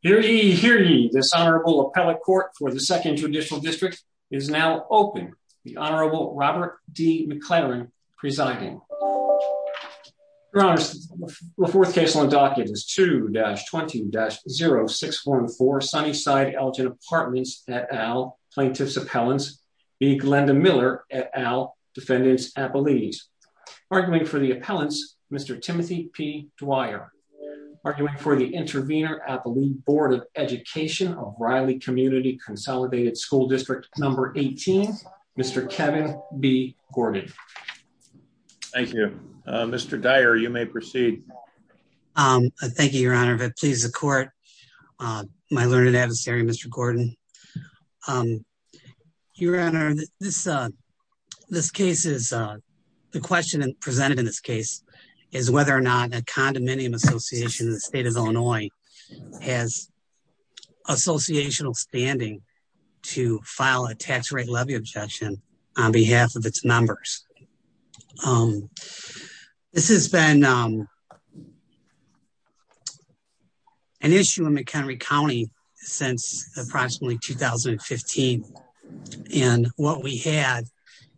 Hear ye, hear ye. This honorable appellate court for the Second Judicial District is now open. The Honorable Robert D. McLaren presiding. Your Honor, the fourth case on docket is 2-20-0614 Sunnyside Elgin Apartments et al., Plaintiff's Appellants v. Glenda Miller et al., Defendant's Appellees. Arguing for the appellants, Mr. Timothy P. Dwyer. Arguing for the intervener at the Lead Board of Education of Riley Community Consolidated School District No. 18, Mr. Kevin B. Gordon. Thank you. Mr. Dyer, you may proceed. Thank you, Your Honor. If it pleases the court, my learned adversary, Mr. Gordon. Your Honor, this case is... The question presented in this case is whether or not a condominium association in the state of Illinois has associational standing to file a tax rate levy objection on behalf of its members. This has been an issue in McHenry County since approximately 2015. And what we had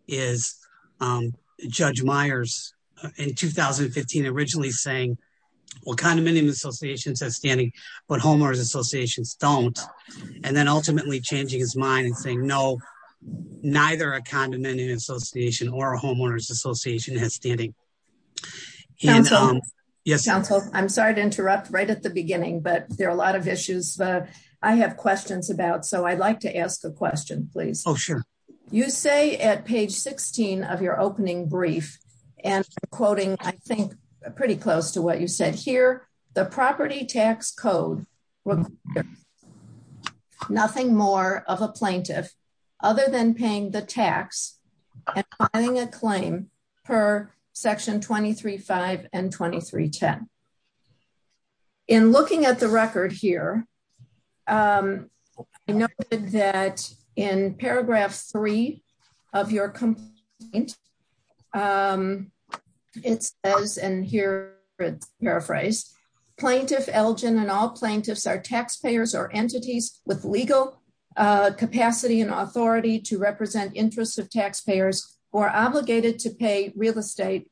is Judge Myers, in 2015, originally saying, well, condominium associations have standing, but homeowners associations don't. And then ultimately changing his mind and saying, no, neither a condominium association or a homeowners association has standing. Counsel, I'm sorry to interrupt right at the beginning, but there are a lot of issues that I have questions about. So I'd like to ask a question, please. Oh, sure. You say at page 16 of your opening brief, and quoting, I think, pretty close to what you said here, the property tax code, nothing more of a plaintiff other than paying the tax and filing a claim per section 23.5 and 23.10. In looking at the record here, I noted that in paragraph three of your complaint, it says, and here it's paraphrased, plaintiff Elgin and all plaintiffs are taxpayers or entities with legal capacity and authority to represent interests of taxpayers who are obligated to pay real estate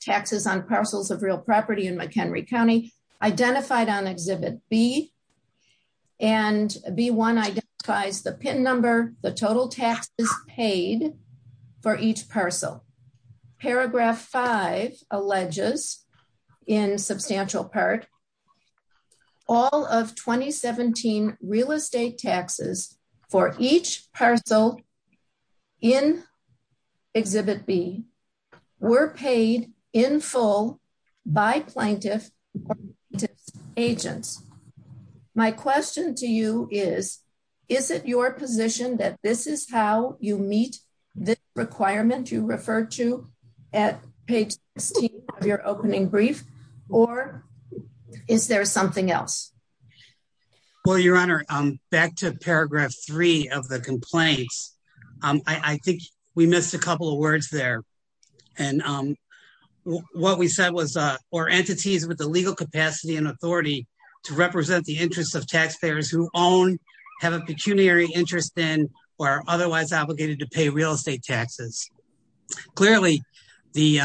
taxes on parcels of real property in McHenry County, identified on exhibit B. And B1 identifies the pin number, the total taxes paid for each parcel. Paragraph five alleges in substantial part, all of 2017 real estate taxes for each parcel in exhibit B were paid in full by plaintiff agents. My question to you is, is it your position that this is how you meet this requirement you refer to at page 16 of your opening brief? Or is there something else? Well, Your Honor, back to paragraph three of the complaints, I think we missed a couple of words there. And what we said was, or entities with the legal capacity and authority to represent the interests of taxpayers who own, have a pecuniary interest in, or are otherwise obligated to pay real estate taxes. Clearly, the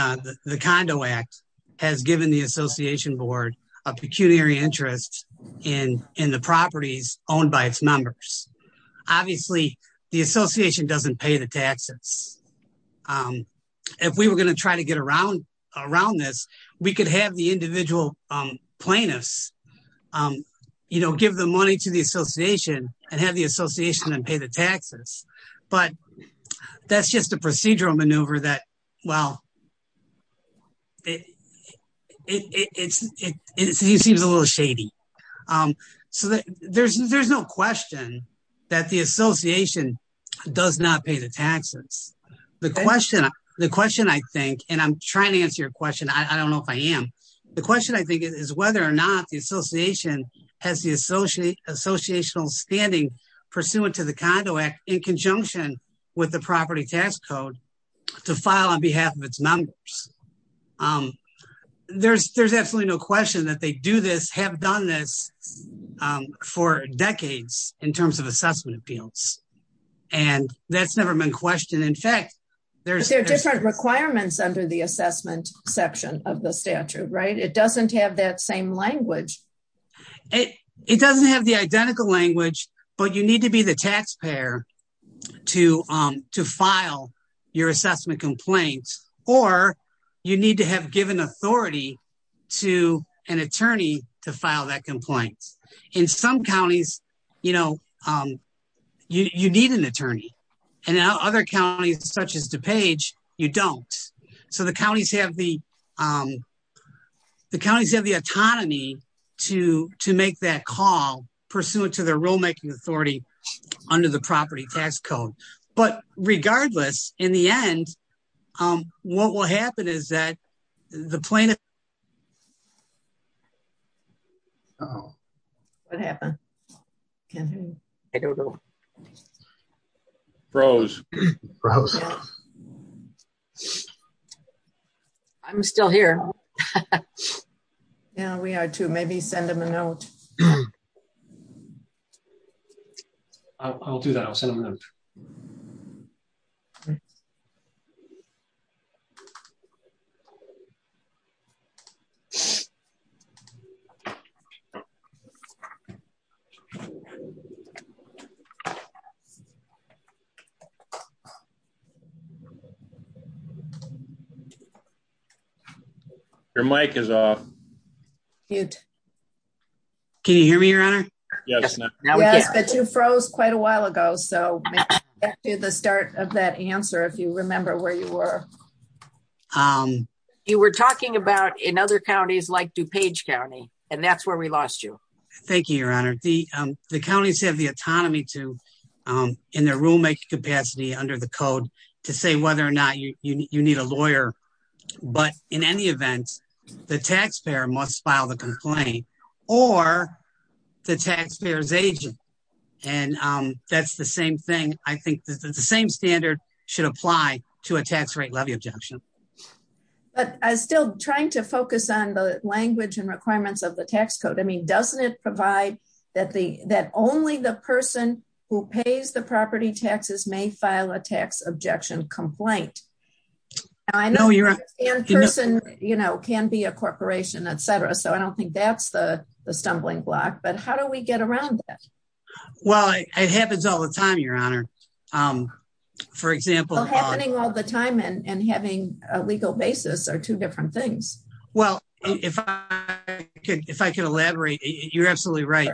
Condo Act has given the Association Board a pecuniary interest in, in the properties owned by its members. Obviously the Association doesn't pay the taxes. If we were going to try to get around, around this, we could have the individual plaintiffs, you know, give the money to the Association and have the Association and pay the taxes. But that's just a procedural maneuver that, well, it seems a little shady. So there's, there's no question that the Association does not pay the taxes. The question, the question I think, and I'm trying to answer your question. I don't know if I am. The question I think is whether or not the Association has the associational standing pursuant to the Condo Act in conjunction with the property tax code to file on behalf of its members. There's, there's absolutely no question that they do this, have done this for decades in terms of assessment appeals. And that's never been questioned. In fact, there's different requirements under the assessment section of the statute, right? It doesn't have that you need to be the taxpayer to, to file your assessment complaint, or you need to have given authority to an attorney to file that complaint. In some counties, you know, you need an attorney. And other counties such as DuPage, you don't. So the counties have the, the counties have the under the property tax code. But regardless, in the end, what will happen is that the plaintiff... Oh. What happened? Rose. I'm still here. Yeah, we are too. Maybe send them a note. I'll do that. I'll send them a note. Your mic is off. Can you hear me, your honor? Yes. But you froze quite a while ago. So back to the start of that answer, if you remember where you were. You were talking about in other counties like DuPage County, and that's where we lost you. Thank you, your honor. The, the counties have the autonomy to, in their rulemaking capacity under the code, to say whether or not you need a lawyer. But in any event, the taxpayer must file the complaint, or the taxpayer's agent. And that's the same thing. I think that the same standard should apply to a tax rate levy objection. But I'm still trying to focus on the language and requirements of the tax code. I mean, doesn't it provide that the, that only the person who pays the property taxes may file a tax objection complaint? I know you're a person, you know, can be a corporation, etc. So I don't think that's the stumbling block. But how do we get around that? Well, it happens all the time, your honor. For example, happening all the time and having a legal basis are two different things. Well, if I could, if I could elaborate, you're absolutely right.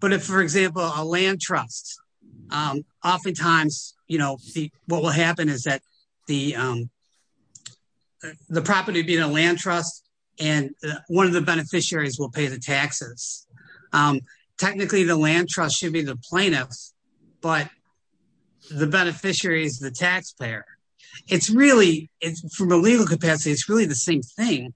But if, for example, a land trust, oftentimes, you know, what will happen is that the, the property being a land trust, and one of the beneficiaries will pay the taxes. Technically, the land trust should be the plaintiffs, but the beneficiary is the taxpayer. It's really, from a legal capacity, it's really the same thing.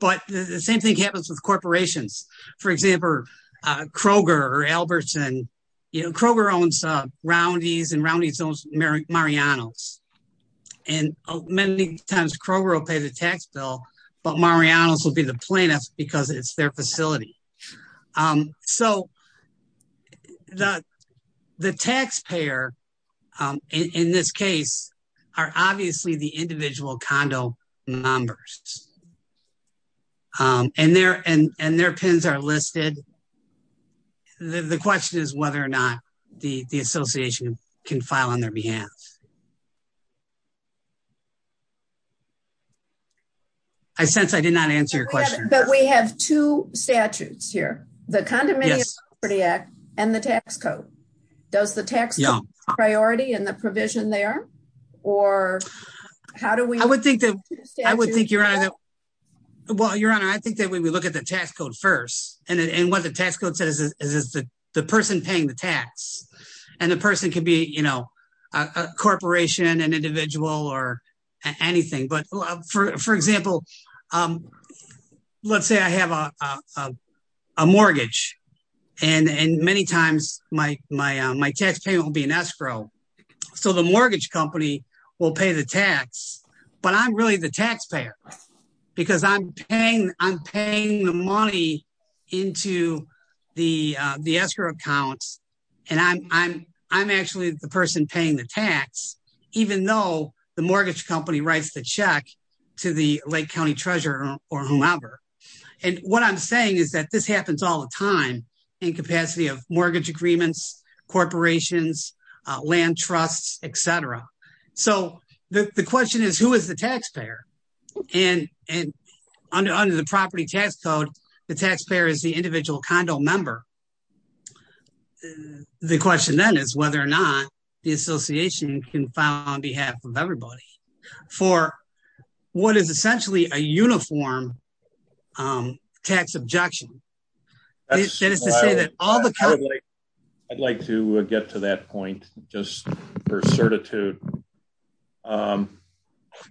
But the same thing happens with corporations. For example, Kroger or Albertson, you know, Kroger owns Roundy's and Roundy's owns Mariano's. And many times Kroger will pay the tax bill, but Mariano's will be the plaintiffs because it's their facility. So the taxpayer, in this case, are obviously the individual condo members. And their, and their PINs are listed. The question is whether or not the association can file on their behalf. I sense I did not answer your question. But we have two statutes here, the Condominium Property Act and the tax code. Does the tax code priority in the provision there? Or how do we? I would think that, I would think, Your Honor, that, well, Your Honor, I think that when we look at the tax code first, and what the tax code says is that the person paying the tax, and the person can be, you know, a corporation, an individual, or anything. But for example, let's say I have a mortgage. And many times my tax payment will be an escrow. So the mortgage company will pay the tax, but I'm really the taxpayer because I'm paying, I'm paying the money into the escrow accounts. And I'm, I'm, I'm actually the person paying the tax, even though the mortgage company writes the check to the Lake County treasurer or whomever. And what I'm saying is that this happens all the time in capacity of mortgage agreements, corporations, land trusts, etc. So the question is, who is the taxpayer? And, and under the property tax code, the taxpayer is the individual condo member. The question then is whether or not the association can file on behalf of everybody for what is essentially a uniform tax objection. I'd like to get to that point, just for certitude.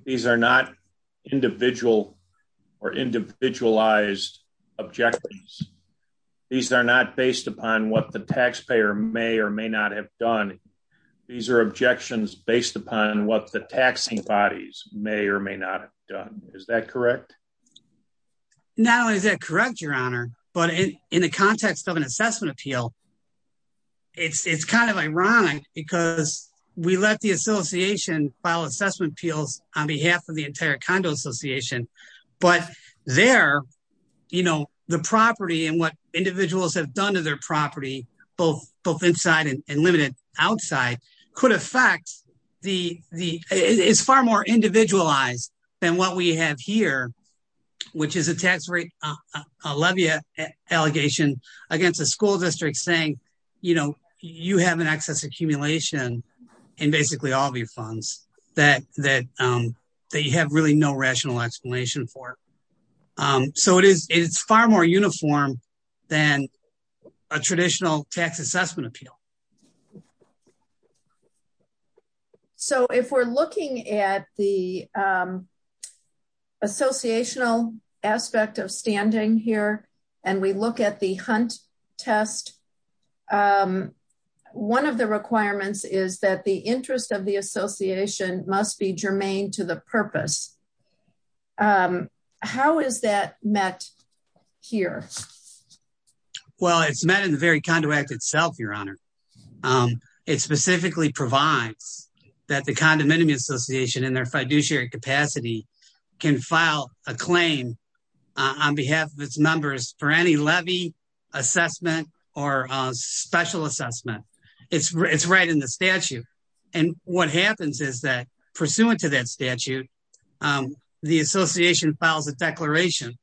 These are not individual or individualized objectives. These are not based upon what the taxpayer may or may not have done. These are objections based upon what the taxing bodies may or may not have done. Is that correct? Not only is that correct, your honor, but in the context of an assessment appeal, it's kind of ironic because we let the association file assessment appeals on behalf of the entire condo association. But there, you know, the property and what individuals have done to their property, both inside and limited outside, could affect the, it's far more individualized than what we have here, which is a tax rate, a levy allegation against the school district saying, you know, you have an excess accumulation in basically all of your funds that you have really no rational explanation for. So it is far more uniform than a traditional tax assessment appeal. So if we're looking at the associational aspect of standing here and we look at the hunt test, one of the requirements is that the interest of the association must be germane to the purpose. How is that met here? Well, it's met in the very condo act itself, your honor. It specifically provides that the condominium association in their fiduciary capacity can file a claim on behalf of its members for any levy assessment or special assessment. It's right in the statute. And what happens is that pursuant to that association files a declaration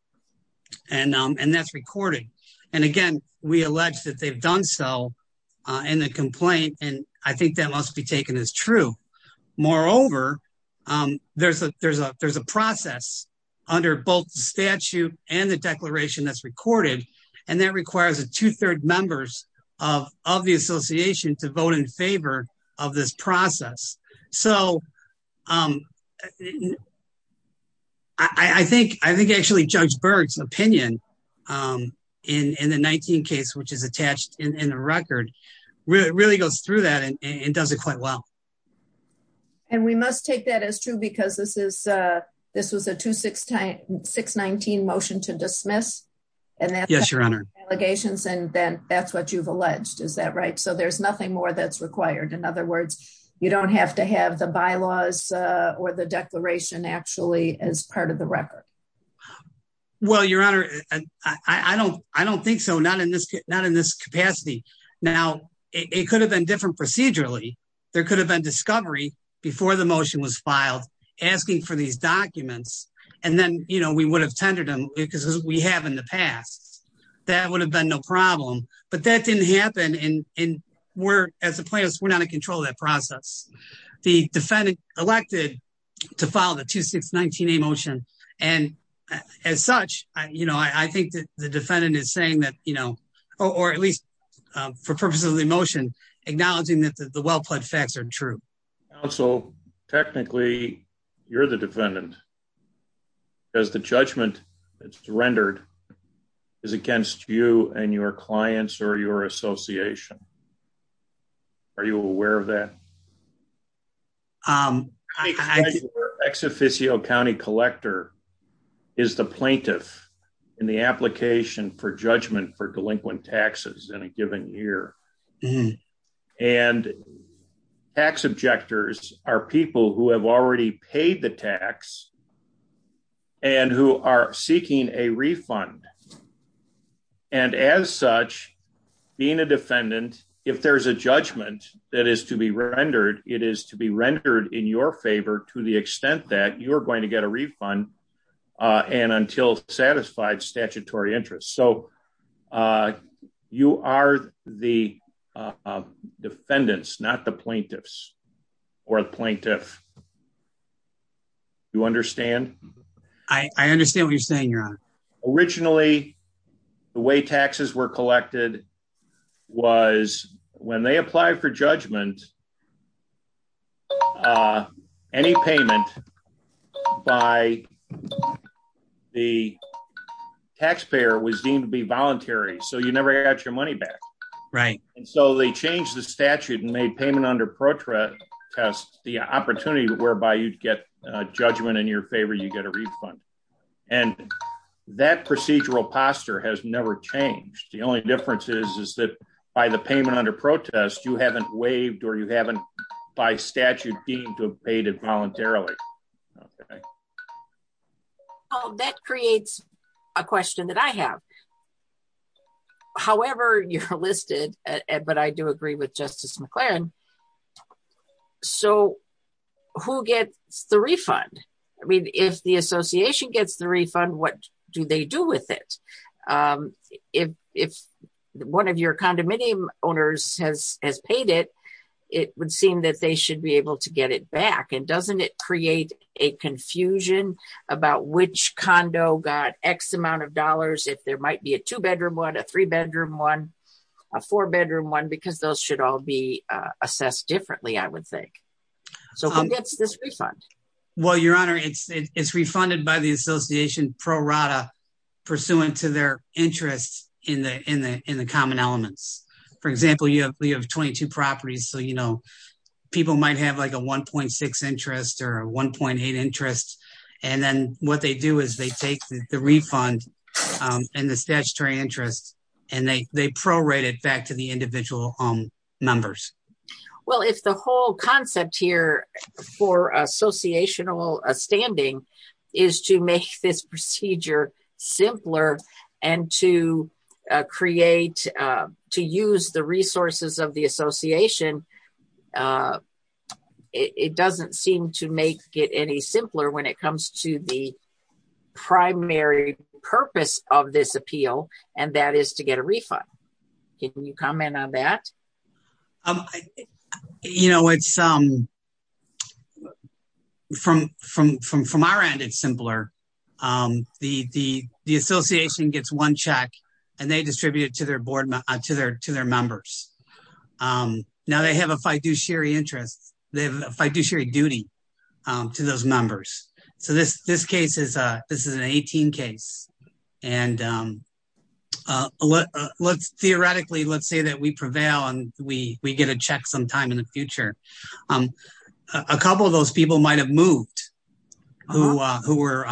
and that's recorded. And again, we allege that they've done so in the complaint. And I think that must be taken as true. Moreover, there's a process under both statute and the declaration that's recorded, and that requires a two-third members of the association to vote in favor of this I think actually Judge Berg's opinion in the 19 case, which is attached in the record, really goes through that and does it quite well. And we must take that as true because this was a 2-6-19 motion to dismiss. Yes, your honor. And that's what you've alleged. Is that right? So there's nothing more that's required. In other words, you don't have to have the bylaws or the declaration actually as part of the record. Well, your honor, I don't think so. Not in this capacity. Now, it could have been different procedurally. There could have been discovery before the motion was filed asking for these documents and then, you know, we would have tendered them because we have in the past. That would have been no problem, but that didn't happen. And we're, as a plaintiff, we're not in control of that the defendant elected to file the 2-6-19 motion. And as such, you know, I think that the defendant is saying that, you know, or at least for purposes of the motion, acknowledging that the well-plaid facts are true. Counsel, technically, you're the defendant. Because the judgment that's rendered is against you and your clients or your association. Are you aware of that? Ex officio County collector is the plaintiff in the application for judgment for delinquent taxes in a given year. And tax objectors are people who have already paid the tax and who are seeking a refund. And as such, being a defendant, if there's a judgment that is to be rendered, it is to be rendered in your favor to the extent that you're going to get a refund and until satisfied statutory interest. So you are the defendants, not the plaintiffs or the plaintiff. You understand? I understand what you're saying, your honor. Originally the way taxes were collected was when they apply for judgment. Any payment by the taxpayer was deemed to be voluntary. So you never got your money back, right? And so they changed the statute and made payment under protra test the opportunity whereby you'd get judgment in your favor. You get a refund and that procedural posture has never changed. The only difference is that by the payment under protest, you haven't waived or you haven't by statute deemed to have paid it voluntarily. That creates a question that I have. However, you're listed, but I do agree with Justice McLaren. So who gets the refund? I mean, if the association gets the refund, what do they do with it? If one of your condominium owners has paid it, it would seem that they should be able to get it back. And doesn't it create a confusion about which condo got X amount of dollars if there might be a two-bedroom one, a three-bedroom one, a four-bedroom one, because those should all be assessed differently, I would think. So who gets this refund? Well, your prorata pursuant to their interest in the common elements. For example, you have 22 properties. So, you know, people might have like a 1.6 interest or a 1.8 interest. And then what they do is they take the refund and the statutory interest and they prorate it back to the individual members. Well, if the whole concept here for associational standing is to make this procedure simpler and to create, to use the resources of the association, it doesn't seem to make it any simpler when it comes to the primary purpose of this appeal, and that is to get a refund. Can you comment on that? You know, it's, from our end, it's simpler. The association gets one check and they distribute it to their board, to their members. Now they have a fiduciary interest, they have a fiduciary duty to those members. So this case is, this is an 18 case. And theoretically, let's say that we prevail and we get a check sometime in the future. A couple of those people might have moved, who were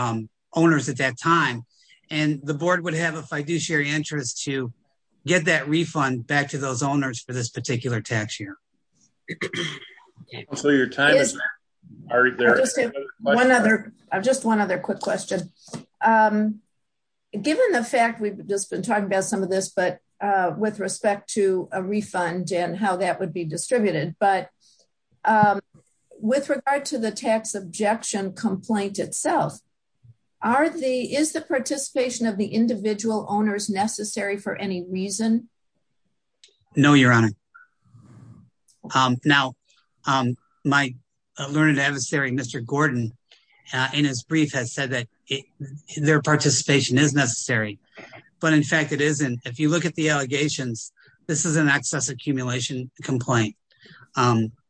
owners at that time, and the board would have a fiduciary interest to get that refund back to those owners for this particular tax year. I'll just say one other, just one other quick question. Given the fact we've just been talking about some of this, but with respect to a refund and how that would be distributed. But with regard to the tax objection complaint itself, is the participation of the individual owners necessary for any reason? No, Your Honor. Now, my learned adversary, Mr. Gordon, in his brief has said that their participation is necessary. But in fact, it isn't. If you look at the allegations, this is an excess accumulation complaint.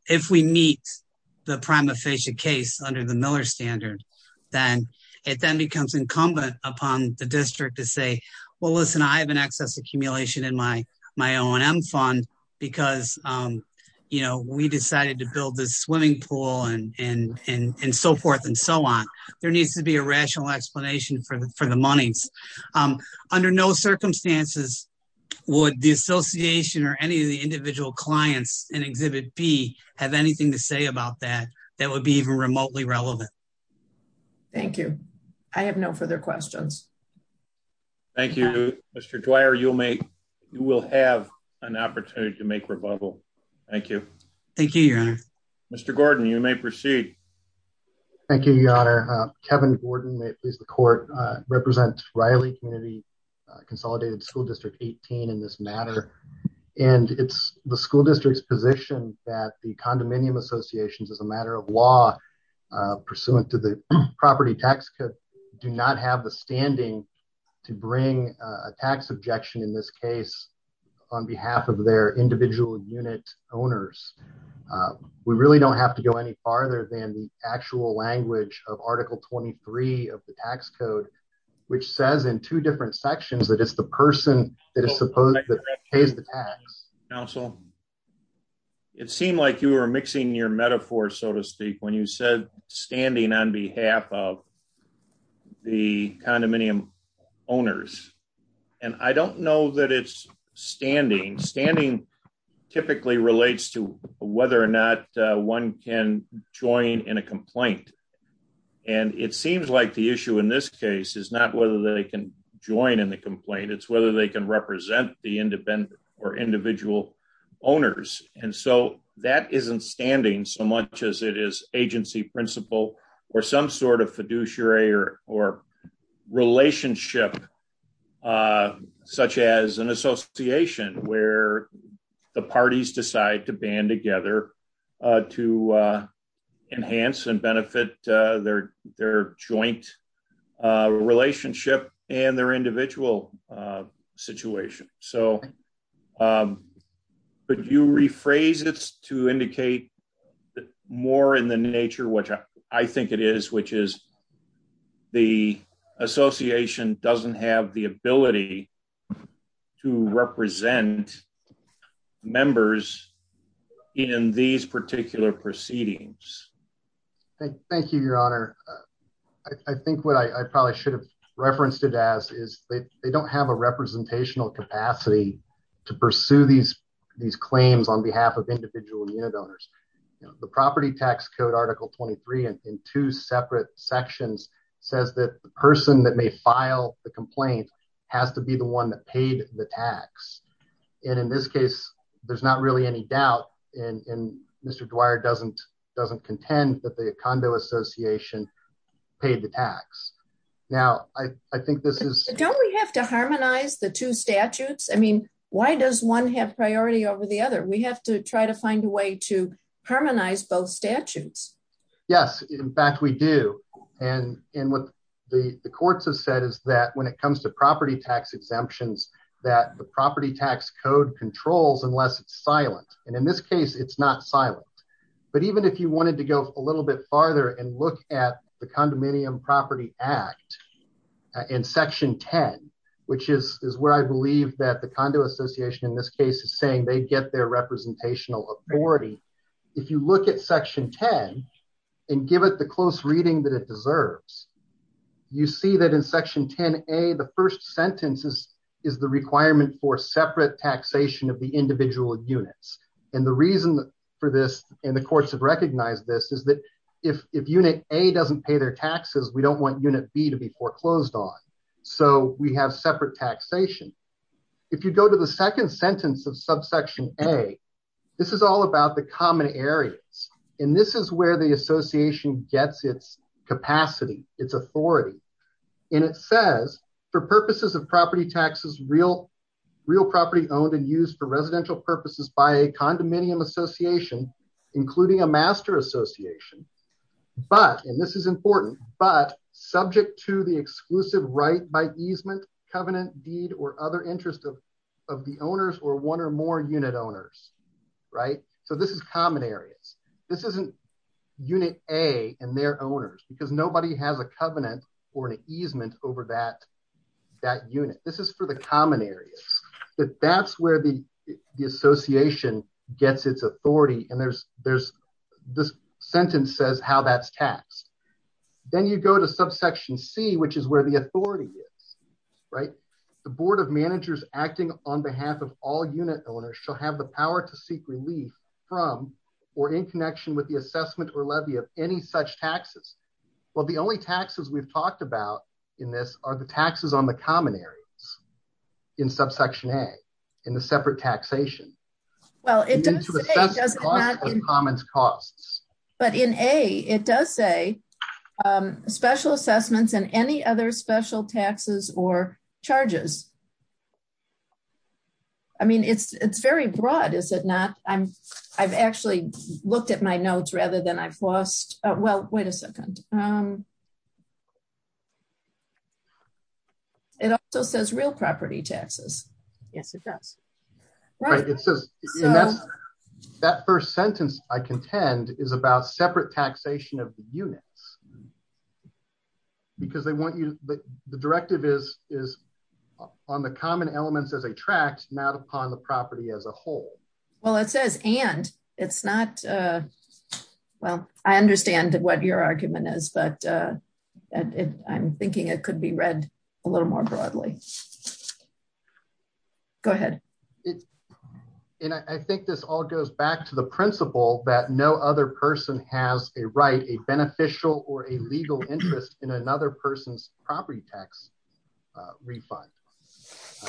If we meet the prima facie case under the Miller standard, then it then becomes incumbent upon the district to say, well, listen, I have an excess accumulation in my O&M fund because, you know, we decided to build this swimming pool and so forth and so on. There needs to be a rational explanation for the monies. Under no circumstances would the association or any of the individual clients in Exhibit B have anything to say about that, that would be even remotely relevant. Thank you. I have no further questions. Thank you, Mr. Dwyer. You will have an opportunity to make rebuttal. Thank you. Mr. Gordon, you may proceed. Thank you, Your Honor. Kevin Gordon is the court, represent Riley Community Consolidated School District 18 in this matter, and it's the school district's position that the condominium associations, as a matter of law, pursuant to the property tax code, do not have the standing to bring a tax objection in this case on behalf of their individual unit owners. We really don't have to go any farther than the actual language of article 23 of the tax code, which says in two different sections that it's the person that is supposed to pay the tax. It seemed like you were mixing your metaphor, so to speak, when you said standing on behalf of the condominium owners, and I don't know that it's standing. Standing typically relates to whether or not one can join in a complaint. And it seems like the issue in this case is not whether they can join in the complaint. It's whether they can represent the independent or individual owners. And so that isn't standing so much as it is agency principle or some sort of fiduciary or relationship, such as an association where the members represent their joint relationship and their individual situation. So, could you rephrase this to indicate more in the nature, which I think it is, which is the association doesn't have the ability to represent members in these particular proceedings. Thank you, your honor. I think what I probably should have referenced it as is they don't have a representational capacity to pursue these claims on behalf of individual unit owners. The property tax code article 23 and in two separate sections says that the person that may file the complaint has to be the one that paid the tax. And in this case, there's not really any doubt and Mr. Dwyer doesn't doesn't contend that the condo Association paid the tax. Now, I think this is don't we have to harmonize the two statutes. I mean, why does one have priority over the other? We have to try to find a way to harmonize both statutes. Yes, in fact, we do. And in what the courts have said is that when it comes to property tax exemptions that the property tax code controls unless it's silent. And in this case, it's not silent. But even if you wanted to go a little bit farther and look at the condominium property act in section 10, which is where I believe that the condo Association in this case is saying they get their representational authority. If you look at section 10 and give it the close reading that it deserves, you see that in section 10a the first sentence is the requirement for separate taxation of the individual units. And the reason for this and the courts have recognized this is that if unit A doesn't pay their taxes, we don't want unit B to be foreclosed on. So we have separate taxation. If you go to the second sentence of subsection A, this is all about the common areas. And this is where the Association gets its capacity, its authority. And it says for purposes of property taxes, real property owned and residential purposes by a condominium Association, including a master Association, but, and this is important, but subject to the exclusive right by easement covenant deed or other interest of of the owners or one or more unit owners, right? So this is common areas. This isn't unit A and their owners because nobody has a covenant or an easement over that that unit. This is for the common areas that that's where the Association gets its authority. And there's, there's this sentence says how that's taxed. Then you go to subsection C, which is where the authority is, right? The board of managers acting on behalf of all unit owners shall have the power to seek relief from or in connection with the assessment or levy of any such taxes. Well, the only taxes we've talked about in this are the taxes on the common areas in subsection A in the separate taxation. Well, it doesn't matter, but in a, it does say special assessments and any other special taxes or charges. I mean, it's, it's very broad. Is it not? I'm I've actually looked at my notes rather than I've lost. Well, wait a second. And it also says real property taxes. Yes, it does. Right. It says that first sentence I contend is about separate taxation of the units because they want you to, the directive is, is on the common elements as a tract, not upon the property as a whole. Well, it says, and it's not. Uh, well, I understand what your argument is, but, uh, I'm thinking it could be read a little more broadly. Go ahead. And I think this all goes back to the principle that no other person has a right, a beneficial or a legal interest in another person's property tax refund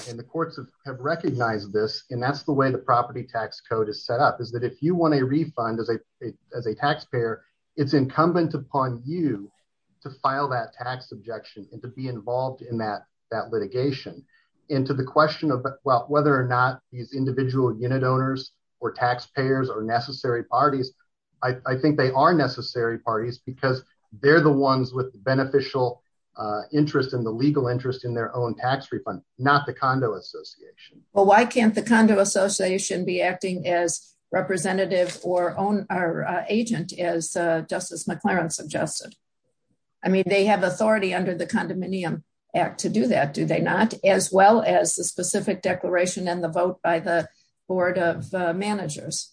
and the courts have recognized this and that's the way the fund as a, as a taxpayer, it's incumbent upon you to file that tax objection and to be involved in that, that litigation into the question of whether or not these individual unit owners or taxpayers are necessary parties. I think they are necessary parties because they're the ones with beneficial interest in the legal interest in their own tax refund, not the condo association. Well, why can't the condo association be acting as representative or own our agent as a justice McLaren suggested? I mean, they have authority under the condominium act to do that. Do they not as well as the specific declaration and the vote by the board of managers?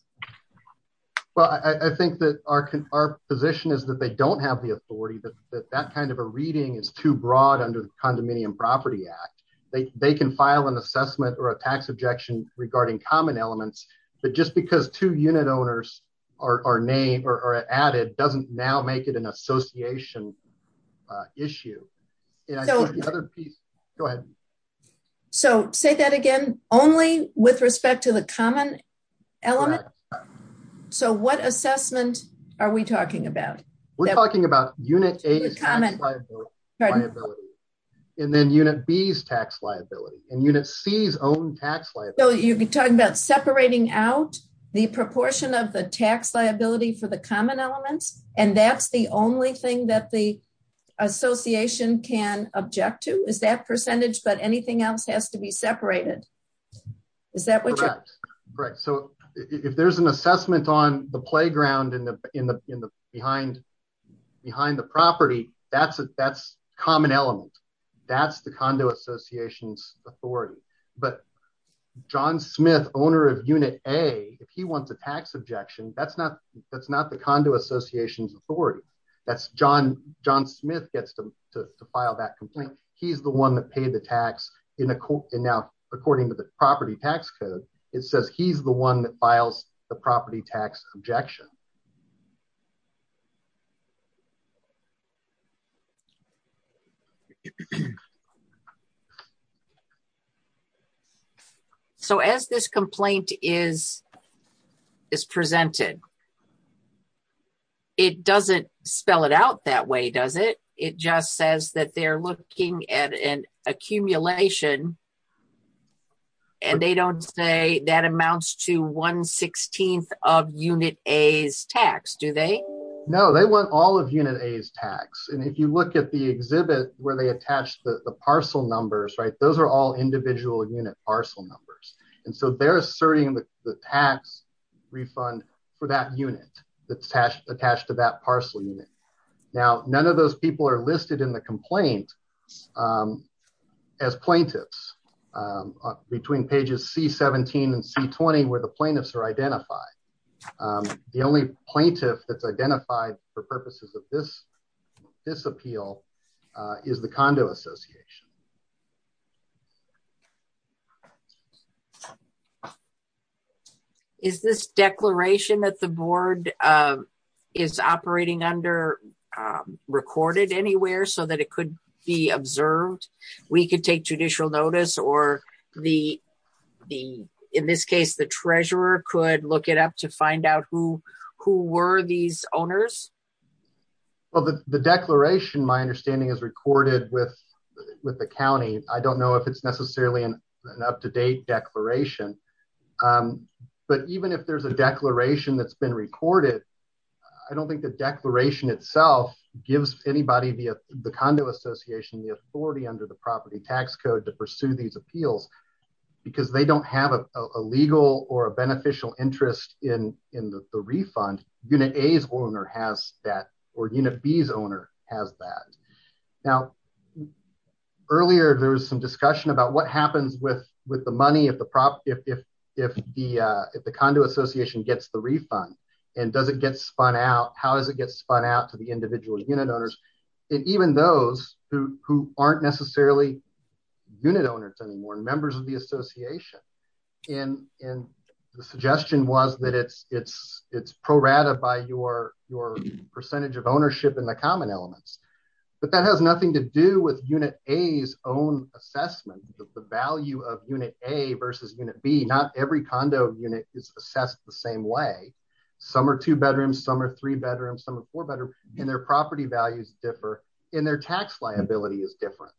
Well, I think that our, our position is that they don't have the authority that that kind of a reading is too broad under the condominium property act. They, they can file an assessment or a tax objection regarding common elements, but just because two unit owners are, are named or are added, doesn't now make it an association issue. And I think the other piece, go ahead. So say that again, only with respect to the common element. So what assessment are we talking about? We're talking about unit a and then unit B's tax liability and unit C's own tax liability. You can talk about separating out the proportion of the tax liability for the common elements. And that's the only thing that the association can object to is that percentage, but anything else has to be separated. Is that what you're correct? So if there's an assessment on the playground in the, in the, in the behind, behind the property, that's a, that's common element. That's the condo associations authority, but John Smith owner of unit a, if he wants a tax objection, that's not, that's not the condo associations authority. That's John, John Smith gets to, to, to file that complaint. He's the one that paid the tax in a court. And now according to the property tax code, it says he's the one that files the property tax objection. So as this complaint is, is presented, it doesn't spell it out that way. Does it? It just says that they're looking at an accumulation and they don't say that amounts to one 16th of unit A's tax. Do they? No, they want all of unit A's tax. And if you look at the exhibit where they attach the parcel numbers, right? Those are all individual unit parcel numbers. And so they're asserting the tax refund for that unit that's attached, attached to that parcel unit. Now, none of those people are listed in the complaint, um, as plaintiffs, um, between pages C 17 and C 20, where the plaintiffs are identified. Um, the only plaintiff that's identified for purposes of this, this appeal, uh, is the condo association. Okay. Is this declaration that the board, um, is operating under, um, recorded anywhere so that it could be observed? We could take judicial notice or the, the, in this case, the treasurer could look it up to find out who, who were these owners of the declaration. My understanding is recorded with, with the County. I don't know if it's necessarily an up-to-date declaration. Um, but even if there's a declaration that's been recorded, I don't think the declaration itself gives anybody via the condo association, the authority under the property tax code to pursue these appeals, because they don't have a legal or a beneficial interest in, in the refund unit A's owner has that or unit B's owner has that. Now earlier, there was some discussion about what happens with, with the money of the prop, if, if, if the, uh, if the condo association gets the refund and does it get spun out, how does it get spun out to the individual unit owners? And even those who, who aren't necessarily unit owners anymore, members of the association in, in the suggestion was that it's, it's, it's pro rata by your, your percentage of ownership in the common elements, but that has nothing to do with unit A's own assessment of the value of unit A versus unit B. Not every condo unit is assessed the same way. Some are two bedrooms, some are three bedrooms, some are four bedroom and their property values differ in their tax liability is different.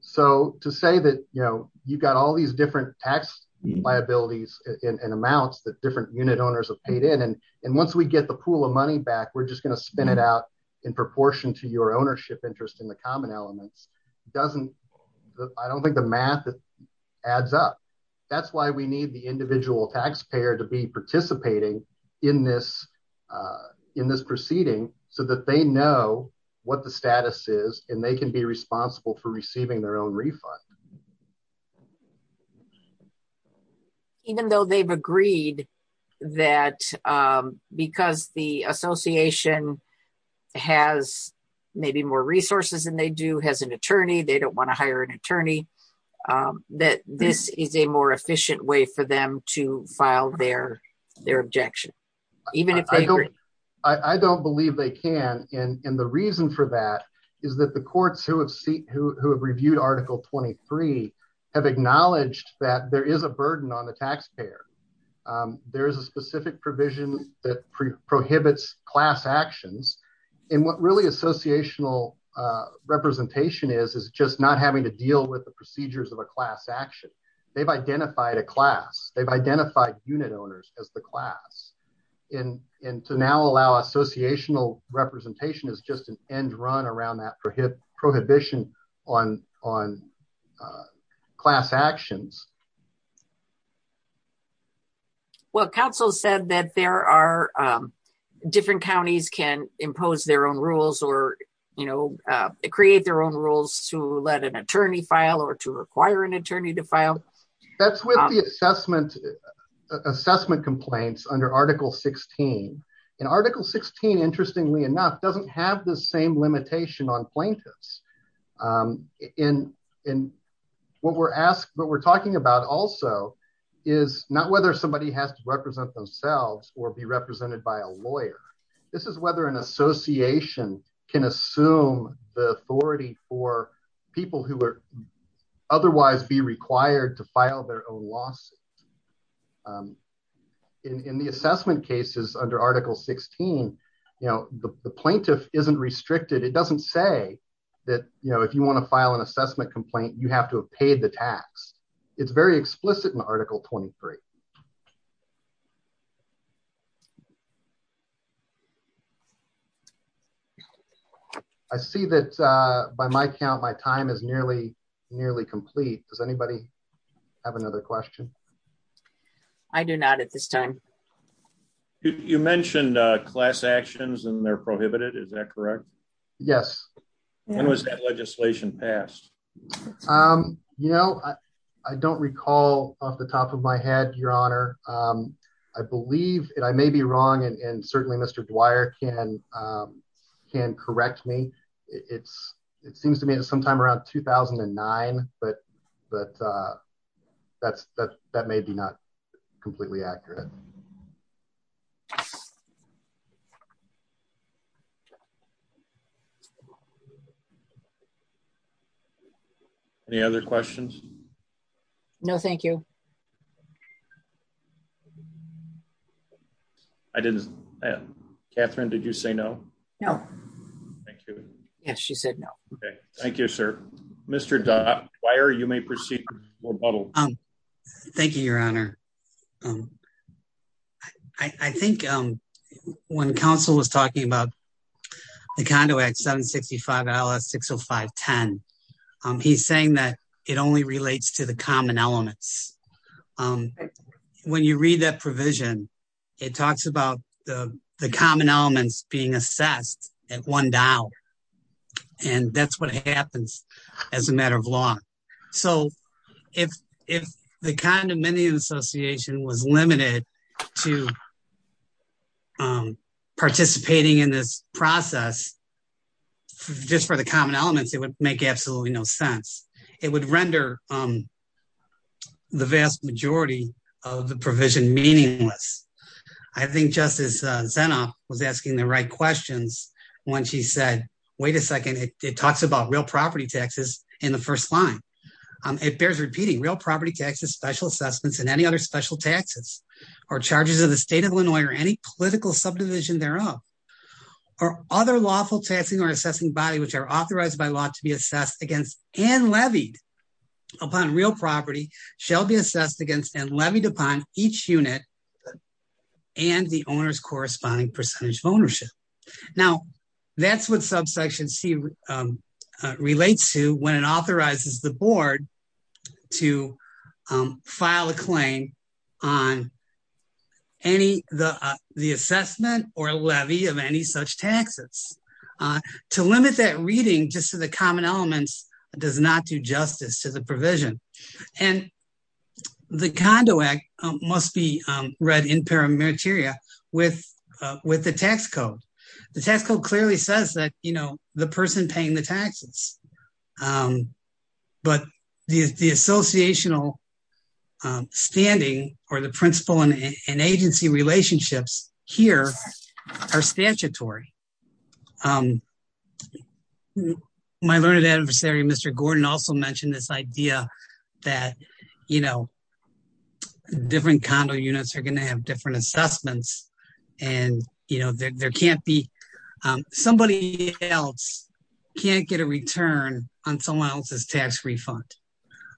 So to say that, you know, you've got all these different tax liabilities and amounts that different unit owners have paid in. And once we get the pool of money back, we're just going to spin it out in proportion to your ownership interest in the common elements. It doesn't, I don't think the math adds up. That's why we need the individual taxpayer to be participating in this, uh, in this proceeding so that they know what the status is and they can be responsible for receiving their own refund. Even though they've agreed that, um, because the association has maybe more resources than they do has an attorney. They don't want to hire an attorney, um, that this is a more efficient way for them to file their, their objection. Even if I don't, I don't believe they can. And the reason for that is that the courts who have seen, who have reviewed article 23 have acknowledged that there is a burden on the taxpayer. Um, there is a specific provision that pre prohibits class actions and what really associational, uh, representation is, is just not having to deal with the procedures of a class action. They've identified a class. They've identified unit owners as the class. And, and to now allow associational representation is just an end run around that prohibition on, on, uh, class actions. Well, council said that there are, um, different counties can impose their own rules or, you know, uh, create their own rules to let an attorney file or to require an attorney to file. That's with the assessment assessment complaints under article 16 and article 16, interestingly enough, doesn't have the same limitation on plaintiffs. Um, in, in what we're asked, but we're talking about also is not whether somebody has to represent themselves or be represented by a lawyer. This is whether an association can assume the authority for people who are otherwise be required to file their own lawsuit. Um, in, in the assessment cases under article 16, you know, the plaintiff isn't restricted. It doesn't say that, you know, if you want to file an assessment complaint, you have to have paid the tax. It's very explicit in article 23. I see that, uh, by my count, my time is nearly, nearly complete. Does anybody have another question? I do not at this time. You mentioned a class actions and they're prohibited. Is that correct? Yes. When was that legislation passed? Um, you know, I, I don't recall off the top of my head, your honor. Um, I believe it, I may be wrong. And certainly Mr. Dwyer can, um, can correct me. It's, it seems to me that sometime around 2009, but, but, uh, that's, that's, that may be not completely accurate. Any other questions? No, thank you. I didn't Catherine. Did you say no? No. Thank you. Yes. She said no. Okay. Thank you, sir. Mr. Dwyer, you may proceed. Thank you, your honor. Um, I think, um, when council was talking about the condo at seven 65 dollars, six Oh five 10, um, he's saying that it only relates to the common elements, um, when you read that provision, it talks about the common elements being assessed at one dial. And that's what happens as a matter of law. So if, if the condominium association was limited to, um, participating in this process, just for the common elements, it would make absolutely no sense. It would render, um, the vast majority of the provision meaningless. I think justice, uh, was asking the right questions when she said, wait a second, it talks about real property taxes in the first line. Um, it bears repeating real property taxes, special assessments, and any other special taxes or charges of the state of Illinois or any political subdivision thereof, or other lawful taxing or assessing body, which are authorized by law to be assessed against and levied upon real property shall be assessed against and levied upon each unit and the owner's corresponding percentage of ownership. Now that's what subsection C, um, uh, relates to when it authorizes the board to, um, file a claim on any, the, uh, the assessment or levy of any such taxes, uh, to limit that reading just to the common elements does not do justice to the provision. And the condo act must be, um, read in paramilitaria with, uh, with the tax code, the tax code clearly says that, you know, the person paying the taxes. Um, but the, the associational, um, standing or the principal and agency relationships here are statutory. Um, my learned adversary, Mr. Gordon also mentioned this idea that, you know, different condo units are going to have different assessments and you know, there, there can't be, um, somebody else can't get a return on someone else's tax refund.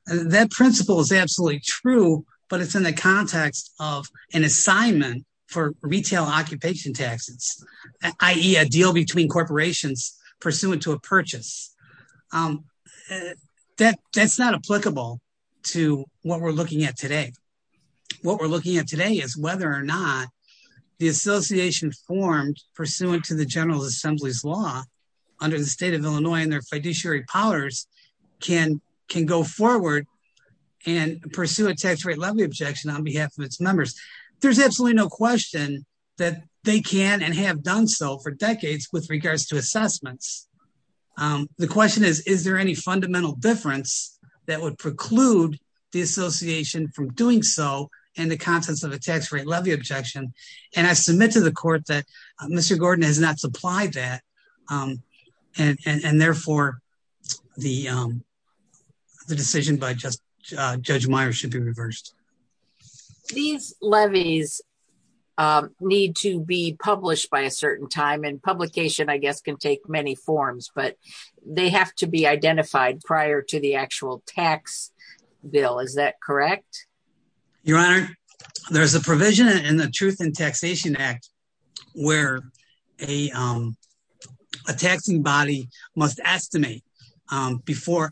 And that principle is absolutely true, but it's in the context of an assignment for retail occupation taxes. I E a deal between corporations pursuant to a purchase, um, that that's not applicable to what we're looking at today. What we're looking at today is whether or not the association formed pursuant to the general assembly's law under the state of Illinois and their fiduciary powers can, can go forward and pursue a tax rate levy objection on behalf of its members. There's absolutely no question that they can and have done so for decades with regards to assessments. Um, the question is, is there any fundamental difference that would preclude the association from doing so and the contents of a tax rate levy objection? And I submit to the court that Mr. Gordon has not supplied that. Um, and, and, and therefore the, um, the decision by just, uh, judge Meyers should be reversed. These levies, um, need to be published by a certain time and publication, I guess, can take many forms, but they have to be identified prior to the actual tax bill. Is that correct? Your honor, there's a provision in the truth and taxation act where a, um, a taxing body must estimate, um, before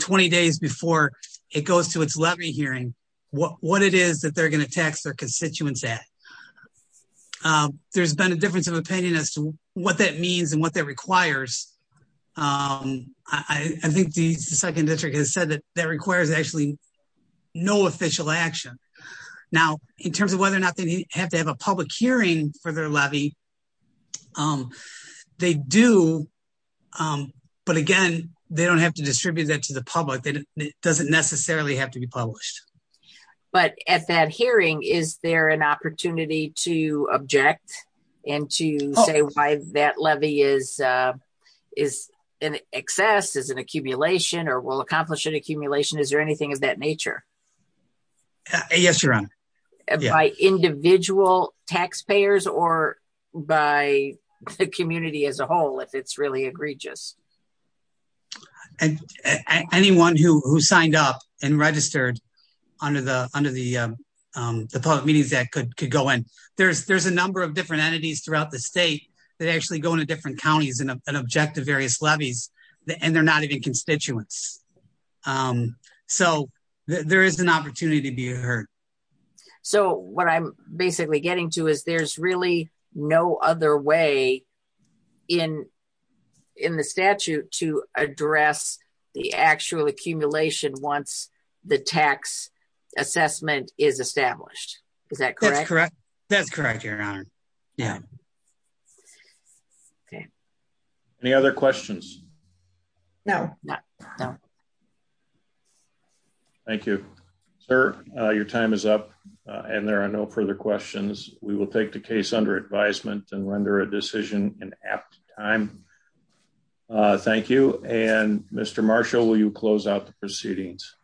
20 days before it goes to its levy hearing. What, what it is that they're going to tax their constituents at, um, there's been a difference of opinion as to what that means and what that requires. Um, I think the second district has said that that requires actually no official action now in terms of whether or not they have to have a public hearing for their levy. Um, they do. Um, but again, they don't have to distribute that to the public. They didn't, it doesn't necessarily have to be published. But at that hearing, is there an opportunity to object and to say why that levy is, uh, is an excess is an accumulation or will accomplish an accumulation? Is there anything of that nature? Yes, your honor. By individual taxpayers or by the community as a whole, if it's really egregious. And anyone who, who signed up and registered under the, under the, um, um, the public meetings that could, could go in, there's, there's a number of different entities throughout the state that actually go into different counties and object to various levies and they're not even constituents. Um, so there is an opportunity to be heard. So what I'm basically getting to is there's really no other way in, in the statute to address the actual accumulation. Once the tax assessment is established, is that correct? That's correct. Your honor. Yeah. Okay. Any other questions? No, no, no. Thank you, sir. Your time is up and there are no further questions. We will take the case under advisement and render a decision in apt time. Thank you. And Mr. Marshall, will you close out the proceedings?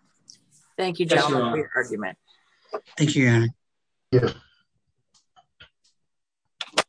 Thank you gentlemen for your argument. Thank you, your honor.